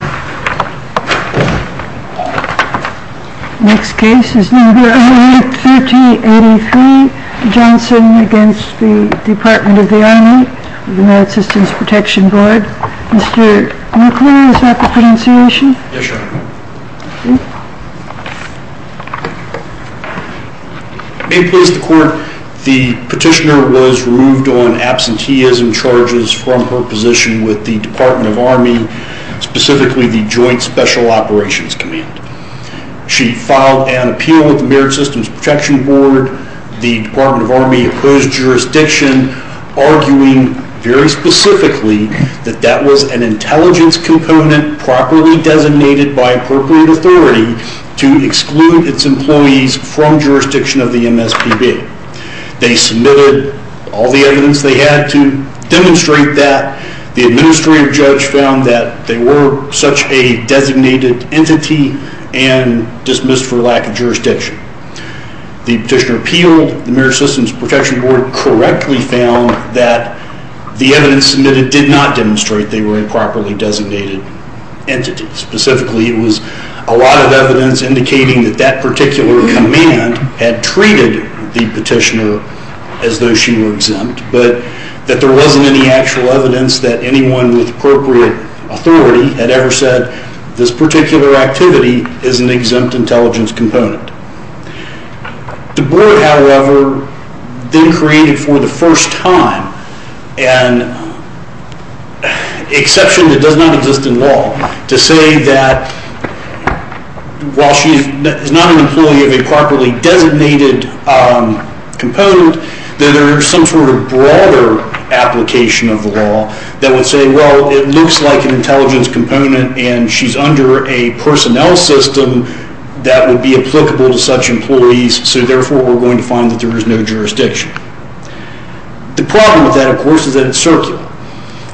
May it please the court, the petitioner was removed on absenteeism charges from her position with the Department of Army, specifically the Joint Special Operations Command. She filed an appeal with the Merit Systems Protection Board, the Department of Army opposed jurisdiction, arguing very specifically that that was an intelligence component properly designated by appropriate authority to exclude its employees from jurisdiction of the MSPB. They submitted all the evidence they had to demonstrate that. The administrative judge found that they were such a designated entity and dismissed for lack of jurisdiction. The petitioner appealed, the Merit Systems Protection Board correctly found that the evidence submitted did not demonstrate they were a properly designated entity. Specifically it was a lot of evidence indicating that that she was exempt, but that there wasn't any actual evidence that anyone with appropriate authority had ever said this particular activity is an exempt intelligence component. The board however then created for the first time an exception that does not exist in law to say that while she is not an improperly designated component, that there is some sort of broader application of the law that would say well it looks like an intelligence component and she's under a personnel system that would be applicable to such employees, so therefore we're going to find that there is no jurisdiction. The problem with that of course is that it's circular.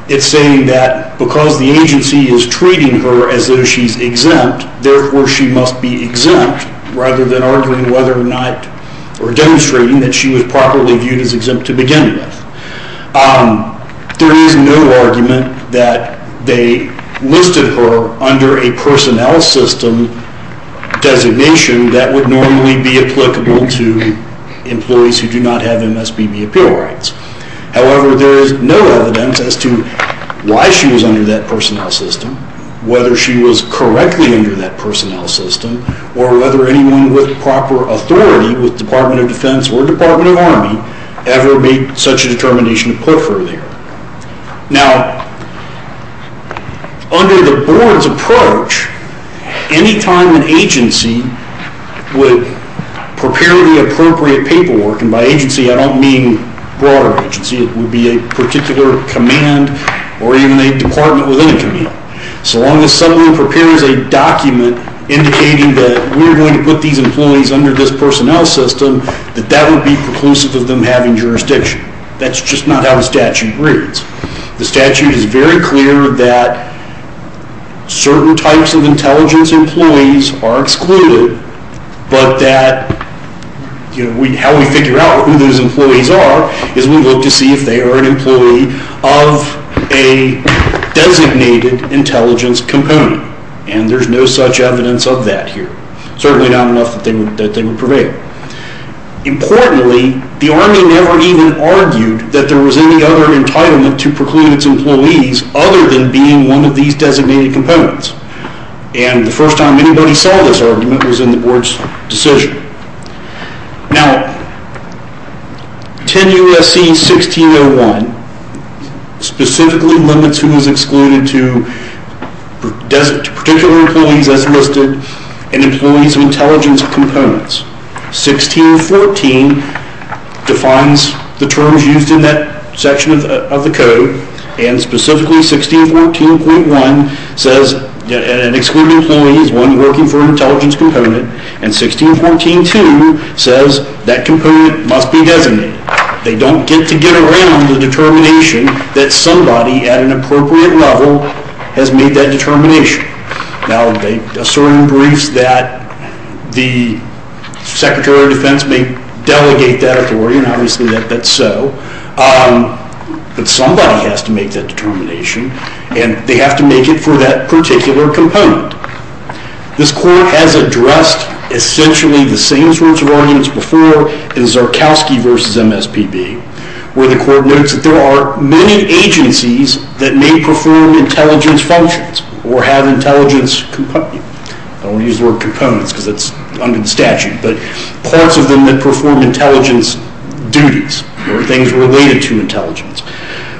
It's saying that because the agency is treating her as though she's exempt, therefore she must be exempt rather than arguing whether or not or demonstrating that she was properly viewed as exempt to begin with. There is no argument that they listed her under a personnel system designation that would normally be applicable to employees who do not have MSBB appeal rights. However there is no evidence as to why she was under that personnel system, whether she was correctly under that personnel system, or whether anyone with proper authority with Department of Defense or Department of Army ever made such a determination to put her there. Now under the board's approach, any time an agency would prepare the appropriate paperwork, and by agency I don't mean broader agency, it would be a particular command or even a department within a command, so long as someone prepares a document indicating that we're going to put these employees under this personnel system, that that would be preclusive of them having jurisdiction. That's just not how the statute reads. The statute is very clear that certain types of employees are, and how we figure out who those employees are is we look to see if they are an employee of a designated intelligence component, and there's no such evidence of that here. Certainly not enough that they would prevail. Importantly, the Army never even argued that there was any other entitlement to preclude its employees other than being one of these designated components, and the first time anybody saw this argument was in the board's decision. Now 10 U.S.C. 1601 specifically limits who is excluded to particular employees as listed and employees of intelligence components. 1614 defines the terms used in that section of the code, and specifically 1614.1 says an excluded employee is one working for an intelligence component, and 1614.2 says that component must be designated. They don't get to get around the determination that somebody at an appropriate level has made that determination. Now they assert in briefs that the Secretary of Defense may delegate that authority, and obviously that's so, but somebody has to make that determination, and they have to make it for that particular component. This court has addressed essentially the same sorts of arguments before in Zarkowski v. MSPB, where the court notes that there are many agencies that may perform intelligence functions or have intelligence components. I don't want to use the word components because that's under the statute, but parts of them that perform intelligence duties or things related to intelligence,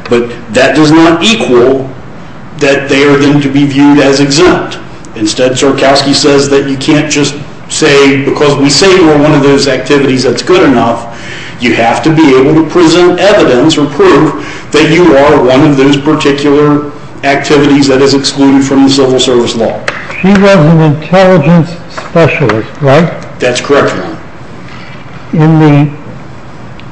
but that does not equal that they are going to be viewed as exempt. Instead, Zarkowski says that you can't just say because we say you are one of those activities that's good enough, you have to be able to present evidence or prove that you are one of those particular activities that is excluded from the civil service law. She was an intelligence specialist, right? That's correct, Your Honor. In the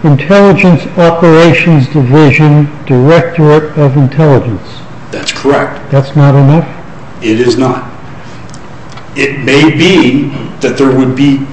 Intelligence Operations Division, Directorate of Intelligence. That's correct. That's not enough? It is not. It may be that there would be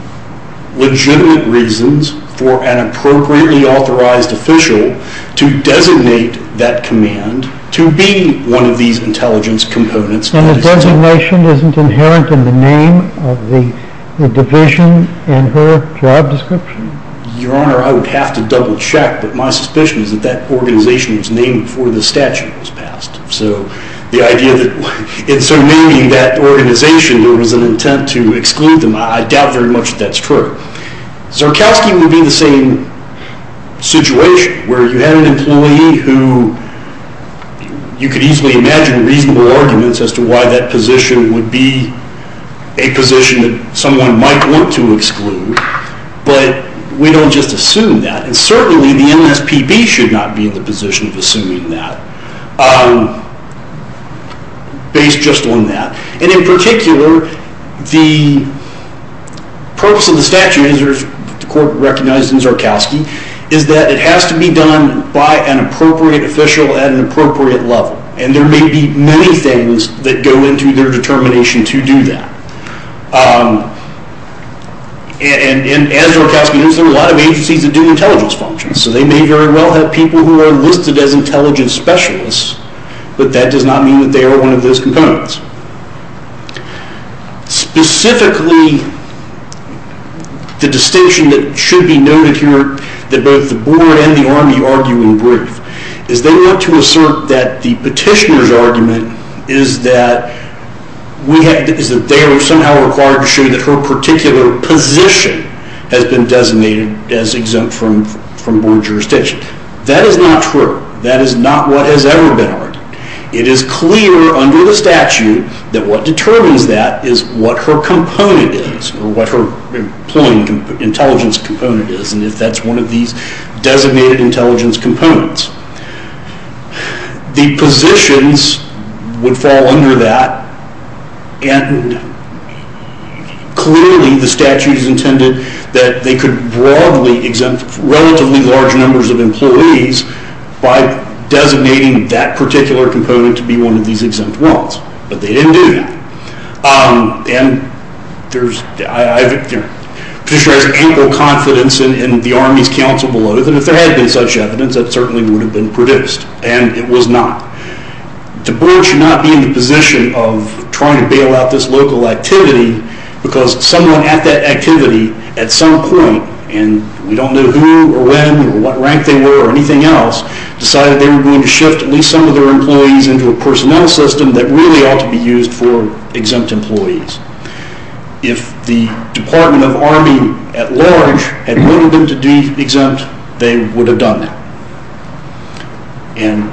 legitimate reasons for an appropriately authorized official to designate that command to be one of these intelligence components. And the designation isn't inherent in the name of the division and her job description? Your Honor, I would have to double check, but my suspicion is that that organization was named before the statute was passed. So the idea that in naming that organization there was an intent to exclude them, I doubt very much that that's true. Zarkowski would be in the same situation where you had an employee who you could easily imagine reasonable arguments as to why that position would be a position that someone might want to exclude. But we don't just assume that, and certainly the MSPB should not be in the position of assuming that, based just on that. And in particular, the purpose of the statute, as the Court recognized in Zarkowski, is that it has to be done by an appropriate official at an appropriate level. And there may be many things that go into their determination to do that. And as Zarkowski knows, there are a lot of agencies that do intelligence functions. So they may very well have people who are listed as intelligence specialists, but that does not mean that they are one of those components. Specifically, the distinction that should be noted here, that both the Board and the Army argue in brief, is they want to assert that the petitioner's argument is that they are somehow required to show that her particular position has been designated as exempt from Board jurisdiction. That is not true. That is not what has ever been argued. It is clear under the statute that what determines that is what her component is, or what her employing intelligence component is. And that's one of these designated intelligence components. The positions would fall under that, and clearly the statute intended that they could broadly exempt relatively large numbers of employees by designating that particular component to be one of these exempt ones. But they didn't do that. And the petitioner has ample confidence in the Army's counsel below that if there had been such evidence, it certainly would have been produced. And it was not. The Board should not be in the position of trying to bail out this local activity because someone at that activity at some point, and we don't know who or when or what rank they were or anything else, decided they were going to shift at least some of their employees into a personnel system that really ought to be used for exempt employees. If the Department of Army at large had wanted them to be exempt, they would have done that. And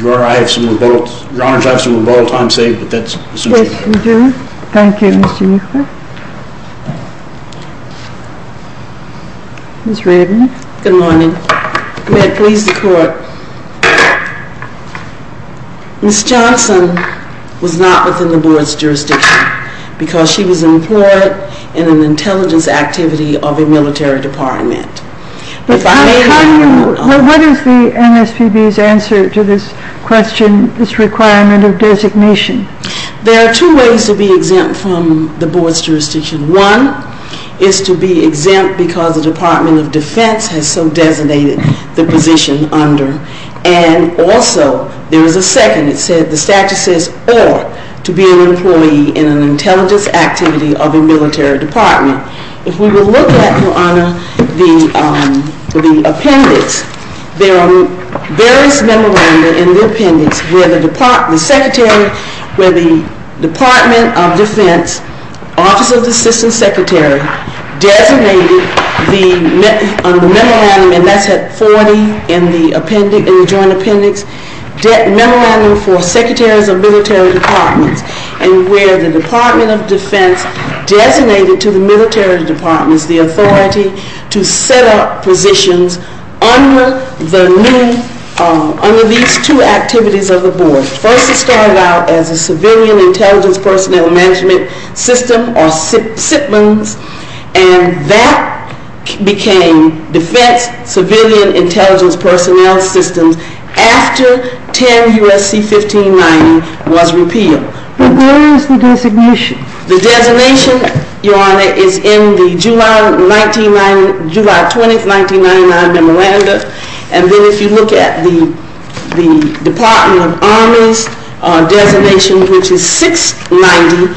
Your Honor, I have some rebuttal time saved, but that's essential. Yes, we do. Thank you, Mr. Nieuwer. Ms. Redmond. Good morning. May it please the Court. Ms. Johnson was not within the Board's jurisdiction because she was employed in an intelligence activity of a military department. What is the MSPB's answer to this question, this requirement of designation? There are two ways to be exempt from the Board's jurisdiction. One is to be exempt because the Department of Defense has so designated the position under. And also, there is a second. The statute says, or to be an employee in an intelligence activity of a military department. If we will look at, Your Honor, the appendix, there are various memoranda in the appendix where the Department of Defense, Office of the Assistant Secretary, designated the memorandum, and that's at 40 in the joint appendix, memorandum for secretaries of military departments. And where the Department of Defense designated to the military departments the authority to set up positions under these two activities of the Board. First, it started out as a Civilian Intelligence Personnel Management System, or SIPMS, and that became Defense Civilian Intelligence Personnel Systems after 10 U.S.C. 1590 was repealed. But where is the designation? The designation, Your Honor, is in the July 20, 1999 memoranda. And then if you look at the Department of Army's designation, which is 690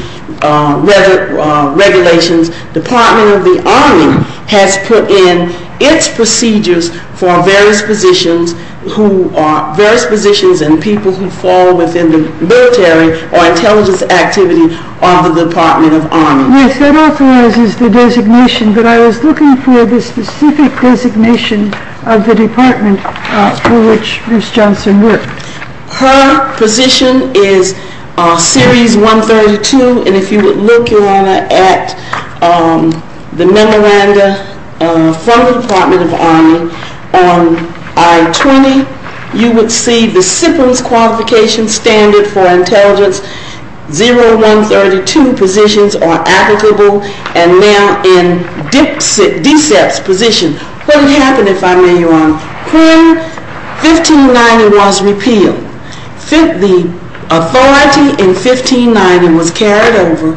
regulations, Department of the Army has put in its procedures for various positions, various positions and people who fall within the military or intelligence activity of the Department of Army. Yes, that authorizes the designation, but I was looking for the specific designation of the department for which Bruce Johnson worked. Her position is Series 132, and if you would look, Your Honor, at the memoranda from the Department of Army, on I-20, you would see the SIPMS qualification standard for intelligence, 0132 positions are applicable, and now in DSEPS position, what would happen if I may, Your Honor, when 1590 was repealed? The authority in 1590 was carried over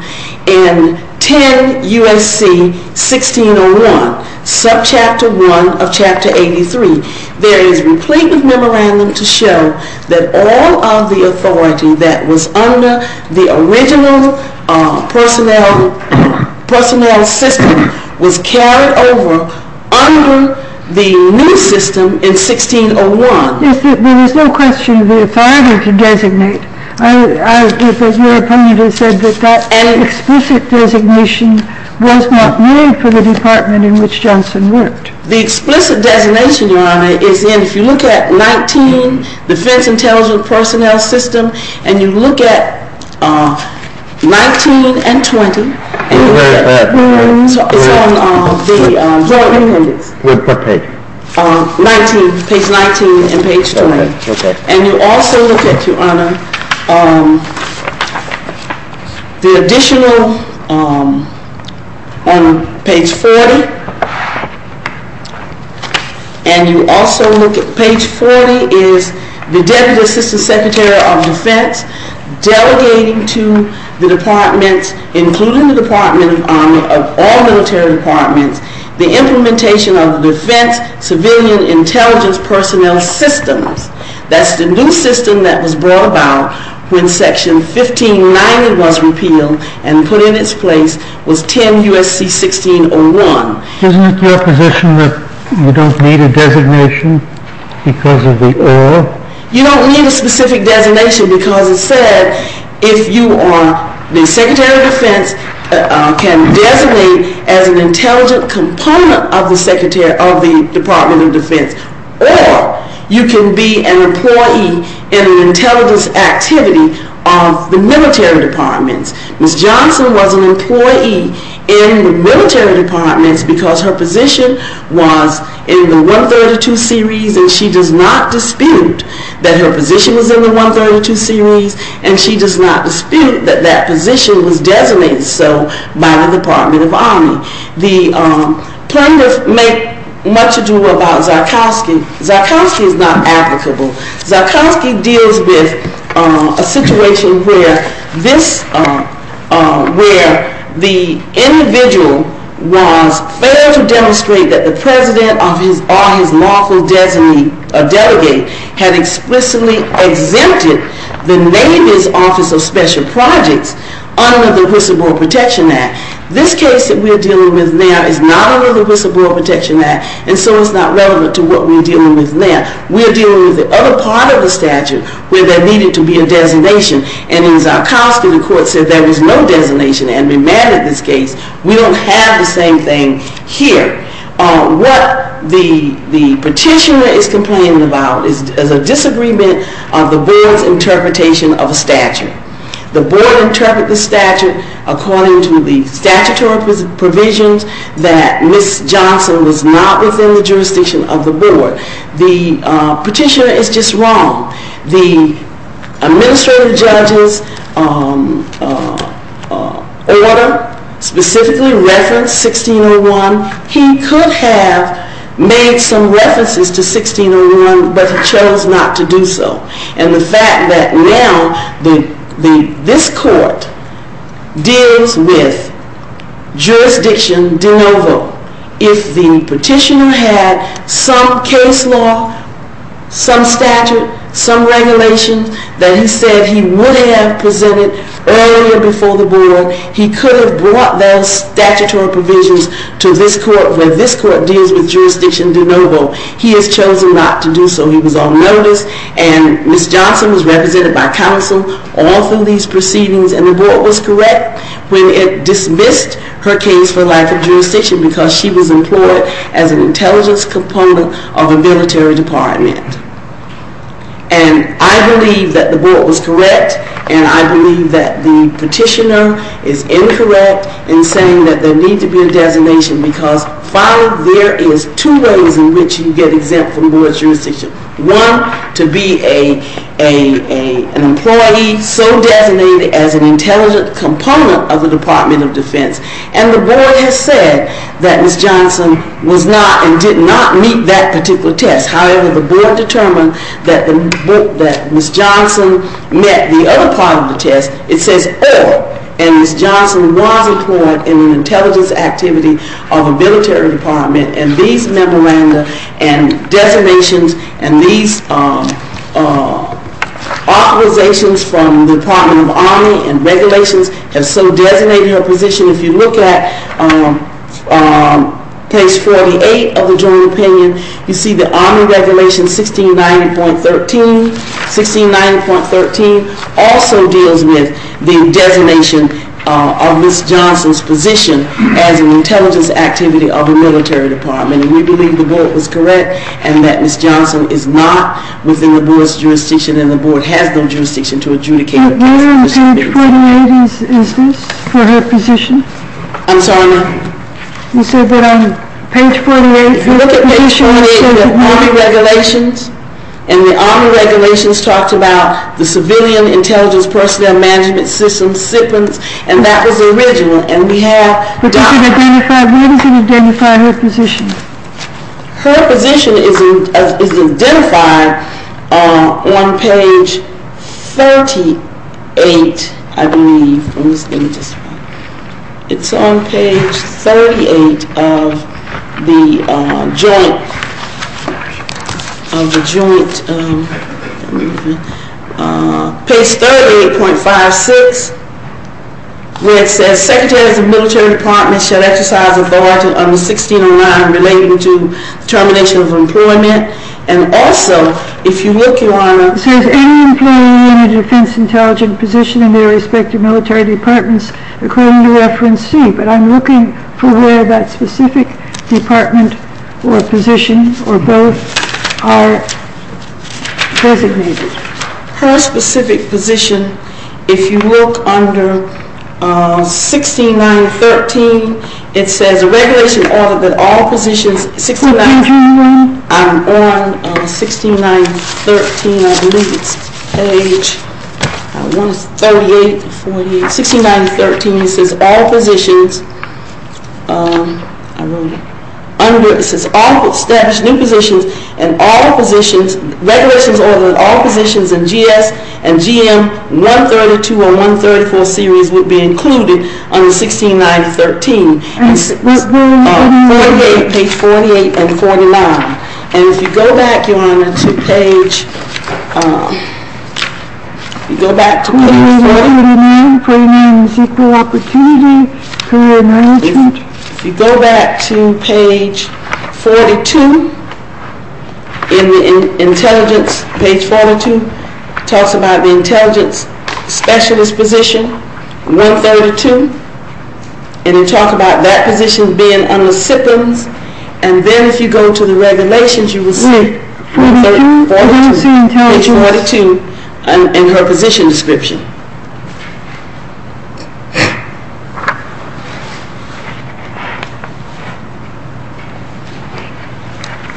in 10 U.S.C. 1601, subchapter 1 of chapter 83. There is a complete memorandum to show that all of the authority that was under the original personnel system was carried over under the new system in 1601. There is no question of the authority to designate. Your opponent has said that an explicit designation was not made for the department in which Johnson worked. The explicit designation, Your Honor, is in, if you look at 19, Defense Intelligence Personnel System, and you look at 19 and 20, it's on page 19 and page 20, and you also look at, Your Honor, the additional, on page 40, and you also look at, page 40 is the Deputy Assistant Secretary of Defense delegating to the departments, including the Department of Army, of all military departments, the implementation of Defense Civilian Intelligence Personnel Systems. That's the new system that was brought about when section 1590 was repealed and put in its place was 10 U.S.C. 1601. Isn't it your position that you don't need a designation because of the or? You don't need a specific designation because it said if you are the Secretary of Defense can designate as an intelligent component of the Department of Defense or you can be an employee in an intelligence activity of the military departments. Ms. Johnson was an employee in the military departments because her position was in the 132 series and she does not dispute that her position was in the 132 series and she does not dispute that that position was designated so by the Department of Army. The plaintiffs make much ado about Zarkowski. Zarkowski is not applicable. Zarkowski deals with a situation where this, where the individual was failed to demonstrate that the president or his lawful delegate had explicitly exempted the Navy's Office of Special Projects under the Whistleblower Protection Act. This case that we're dealing with now is not under the Whistleblower Protection Act and so it's not relevant to what we're dealing with now. We're dealing with the other part of the statute where there needed to be a designation and in Zarkowski the court said there was no designation and remanded this case. We don't have the same thing here. What the petitioner is complaining about is a disagreement of the board's interpretation of a statute. The board interpreted the statute according to the statutory provisions that Ms. Johnson was not within the jurisdiction of the board. The petitioner is just wrong. The administrative judge's order specifically referenced 1601. He could have made some references to 1601 but he chose not to do so and the fact that now this court deals with jurisdiction de novo. If the petitioner had some case law, some statute, some regulation that he said he would have presented earlier before the board, he could have brought those statutory provisions to this court where this court deals with jurisdiction de novo. He has chosen not to do so. He was on notice and Ms. Johnson was represented by counsel all through these proceedings and the board was correct when it dismissed her case for lack of jurisdiction because she was employed as an intelligence component of a military department. I believe that the board was correct and I believe that the petitioner is incorrect in saying that there needs to be a designation because, father, there is two ways in which you get exempt from board jurisdiction. One, to be an employee so designated as an intelligence component of the Department of Defense and the board has said that Ms. Johnson was not and did not meet that particular test. However, the board determined that Ms. Johnson met the other part of the test. It says, oh, and Ms. Johnson was employed in an intelligence activity of a military department and these memoranda and designations and these authorizations from the Department of Army and regulations have so designated her position. If you look at page 48 of the joint opinion, you see the army regulation 1690.13. 1690.13 also deals with the designation of Ms. Johnson's position as an intelligence activity of a military department and we believe the board was correct and that Ms. Johnson is not within the board's jurisdiction and the board has no jurisdiction to adjudicate her case. On page 48, is this for her position? I'm sorry, ma'am? You said that on page 48. If you look at page 48, the army regulations and the army regulations talked about the civilian intelligence personnel management systems, SIPMs, and that was original and we have. What does it identify her position? Her position is identified on page 38, I believe. It's on page 38 of the joint, page 38.56, where it says secretaries of military departments shall exercise authority under 1609 relating to termination of employment and also, if you look, Your Honor, it says any employee in a defense intelligence position in their respective military departments, according to reference C, but I'm looking for where that specific department or position or both are designated. Her specific position, if you look under 16913, it says a regulation order that all positions, I'm on 16913, I believe it's page 38, 16913, it says all positions, I wrote it, it says all established new positions and all positions, regulations order that all positions in GS and GM 132 or 134 series would be included under 16913. Page 48 and 49. And if you go back, Your Honor, to page, if you go back to page, if you go back to page 42 in the intelligence, page 42, it talks about the intelligence specialist position, 132, and it talks about that position being under SIPMs, and then if you go to the regulations, you will see page 42 in her position description.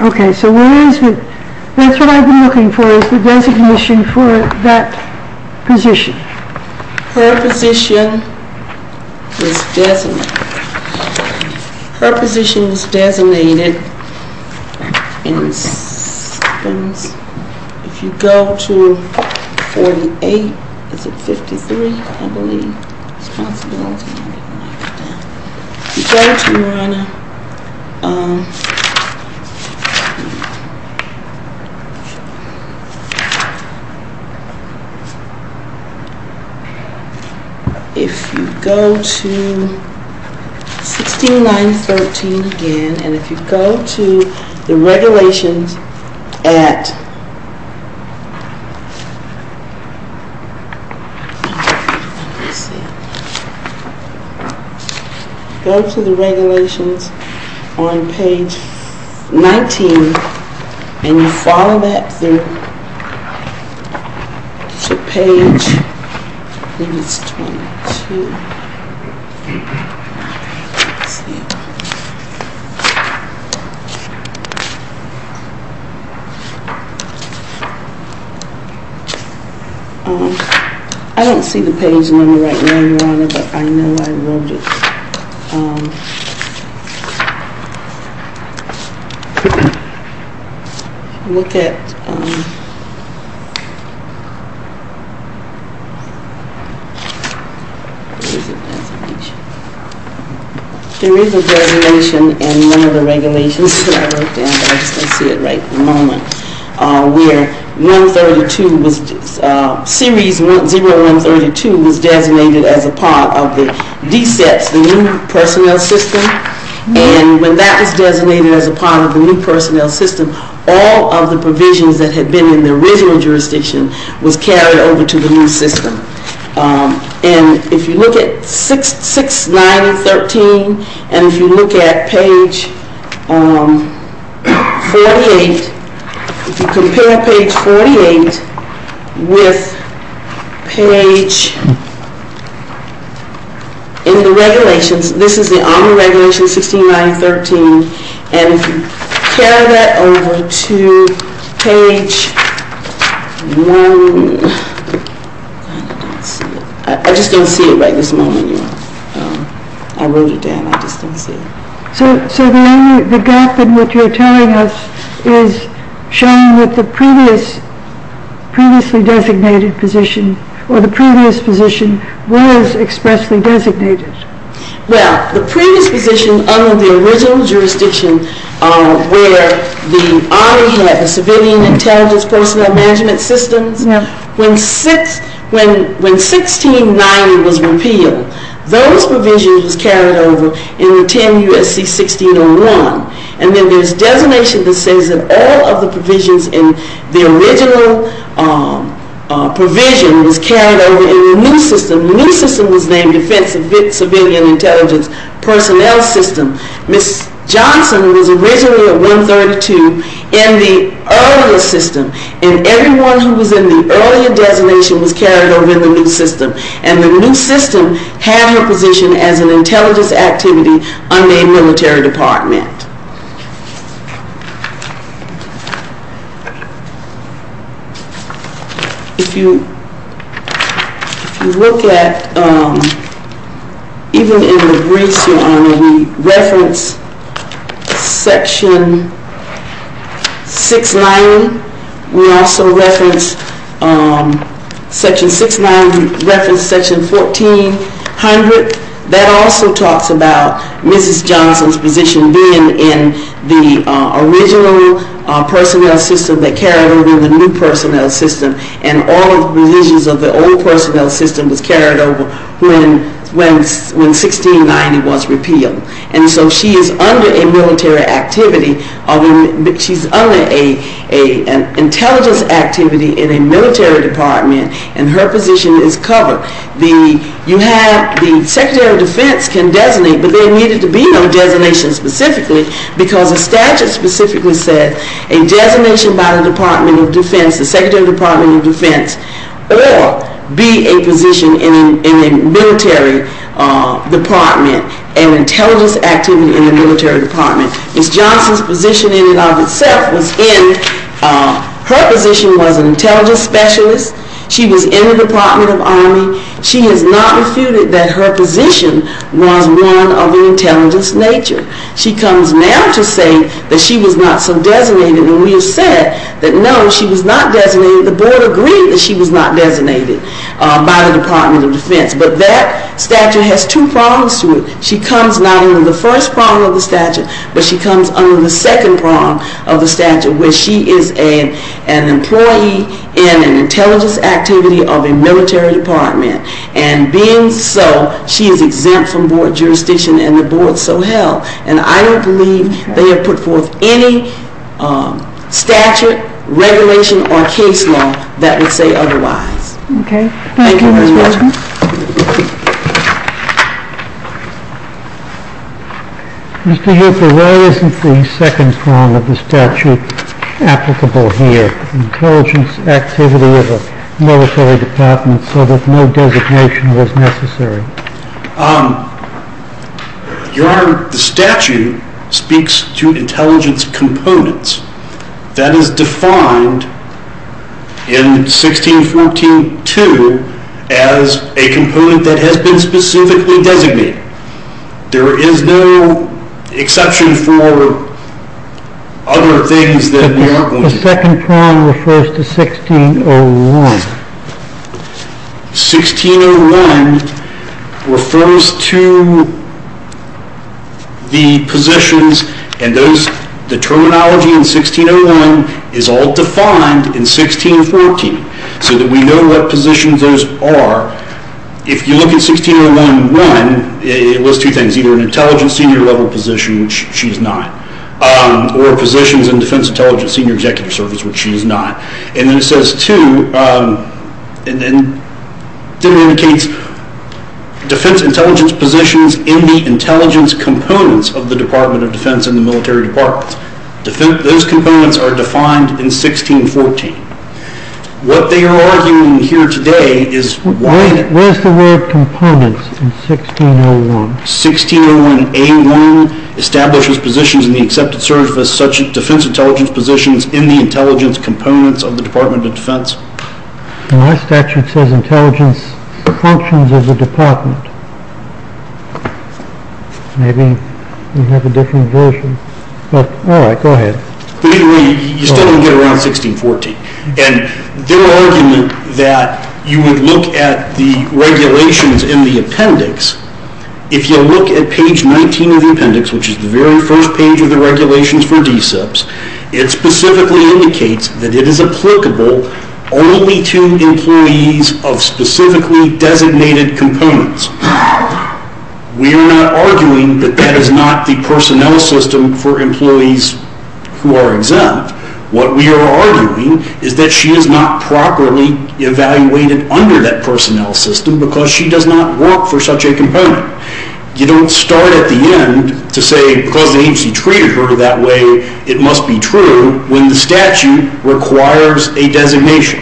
Okay, so that's what I've been looking for is the designation for that position. Her position was designated, her position was designated in SIPMs, if you go to 48, is it 53, I believe. If you go to, Your Honor, if you go to 16913 again, and if you go to the regulations at, go to the regulations on page 19, and you follow that through to page, I think it's 22. I don't see the page number right now, Your Honor, but I know I wrote it. Look at, there is a designation in one of the regulations that I wrote down, but I just don't see it right at the moment, where 132 was, series 0132 was designated as a part of the DSETS, the new personnel system, and when that was designated as a part of the new personnel system, all of the provisions that had been in the original jurisdiction was carried over to the new system. And if you look at 6913, and if you look at page 48, if you compare page 48 with page, in the regulations, this is on the regulations, 6913, and if you compare that over to page 1, I just don't see it right this moment, Your Honor. I wrote it down, I just don't see it. So the gap in what you're telling us is showing that the previously designated position, or the previous position, was expressly designated. Well, the previous position under the original jurisdiction, where the Army had the civilian intelligence personnel management systems, when 1690 was repealed, those provisions were carried over in 10 U.S.C. 1601, and then there's designation that says that all of the provisions in the original provision was carried over in the new system. The new system was named Defense Civilian Intelligence Personnel System. Ms. Johnson was originally at 132 in the earlier system, and everyone who was in the earlier designation was carried over in the new system, and the new system had her position as an intelligence activity under a military department. If you look at, even in the briefs, Your Honor, we reference section 690. We also reference section 690, reference section 1400. That also talks about Mrs. Johnson's position being in the original personnel system that carried over in the new personnel system, and all of the provisions of the old personnel system was carried over when 1690 was repealed. And so she is under an intelligence activity in a military department, and her position is covered. The Secretary of Defense can designate, but there needed to be no designation specifically, because the statute specifically said a designation by the Department of Defense, the Secretary of Department of Defense, or be a position in a military department, an intelligence activity in a military department. Ms. Johnson's position in and of itself was in, her position was an intelligence specialist. She was in the Department of Army. She has not refuted that her position was one of an intelligence nature. She comes now to say that she was not so designated, and we have said that, no, she was not designated. The board agreed that she was not designated by the Department of Defense, but that statute has two prongs to it. She comes not under the first prong of the statute, but she comes under the second prong of the statute, where she is an employee in an intelligence activity of a military department, and being so, she is exempt from board jurisdiction, and the board so held. And I don't believe they have put forth any statute, regulation, or case law that would say otherwise. Okay. Thank you, Ms. Johnson. Mr. Hooper, why isn't the second prong of the statute applicable here, intelligence activity of a military department, so that no designation was necessary? Your Honor, the statute speaks to intelligence components. That is defined in 1614.2 as a component that has been specifically designated. There is no exception for other things that we are going to do. The second prong refers to 1601. 1601 refers to the positions, and the terminology in 1601 is all defined in 1614, so that we know what positions those are. If you look at 1601.1, it lists two things, either an intelligence senior level position, which she is not, or positions in defense intelligence senior executive service, which she is not. And then it says two, and then it indicates defense intelligence positions in the intelligence components of the Department of Defense and the military departments. Those components are defined in 1614. What they are arguing here today is why... Where is the word components in 1601? 1601.A1 establishes positions in the accepted service, such as defense intelligence positions in the intelligence components of the Department of Defense. My statute says intelligence functions of the department. Maybe we have a different version. All right, go ahead. You still don't get around 1614. And their argument that you would look at the regulations in the appendix, if you look at page 19 of the appendix, which is the very first page of the regulations for DCIPs, it specifically indicates that it is applicable only to employees of specifically designated components. We are not arguing that that is not the personnel system for employees who are exempt. What we are arguing is that she is not properly evaluated under that personnel system You don't start at the end to say, because the agency treated her that way, it must be true when the statute requires a designation.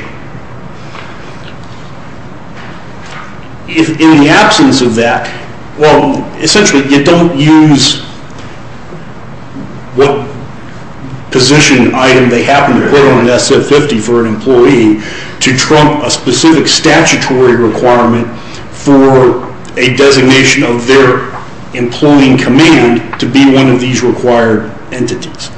In the absence of that, well, essentially you don't use what position item they happen to put on SF-50 to trump a specific statutory requirement for a designation of their employee in command to be one of these required entities.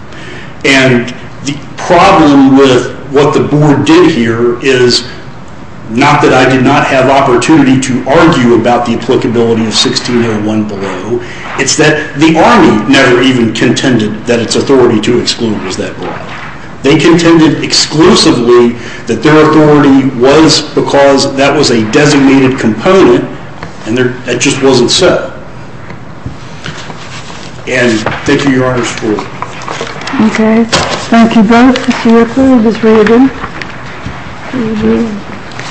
And the problem with what the board did here is not that I did not have the opportunity to argue about the applicability of 1601 below. It's that the Army never even contended that its authority to exclude was that broad. They contended exclusively that their authority was because that was a designated component and that just wasn't so. And thank you, Your Honor. Okay. Thank you both, Mr. Whitley and Ms. Rabin.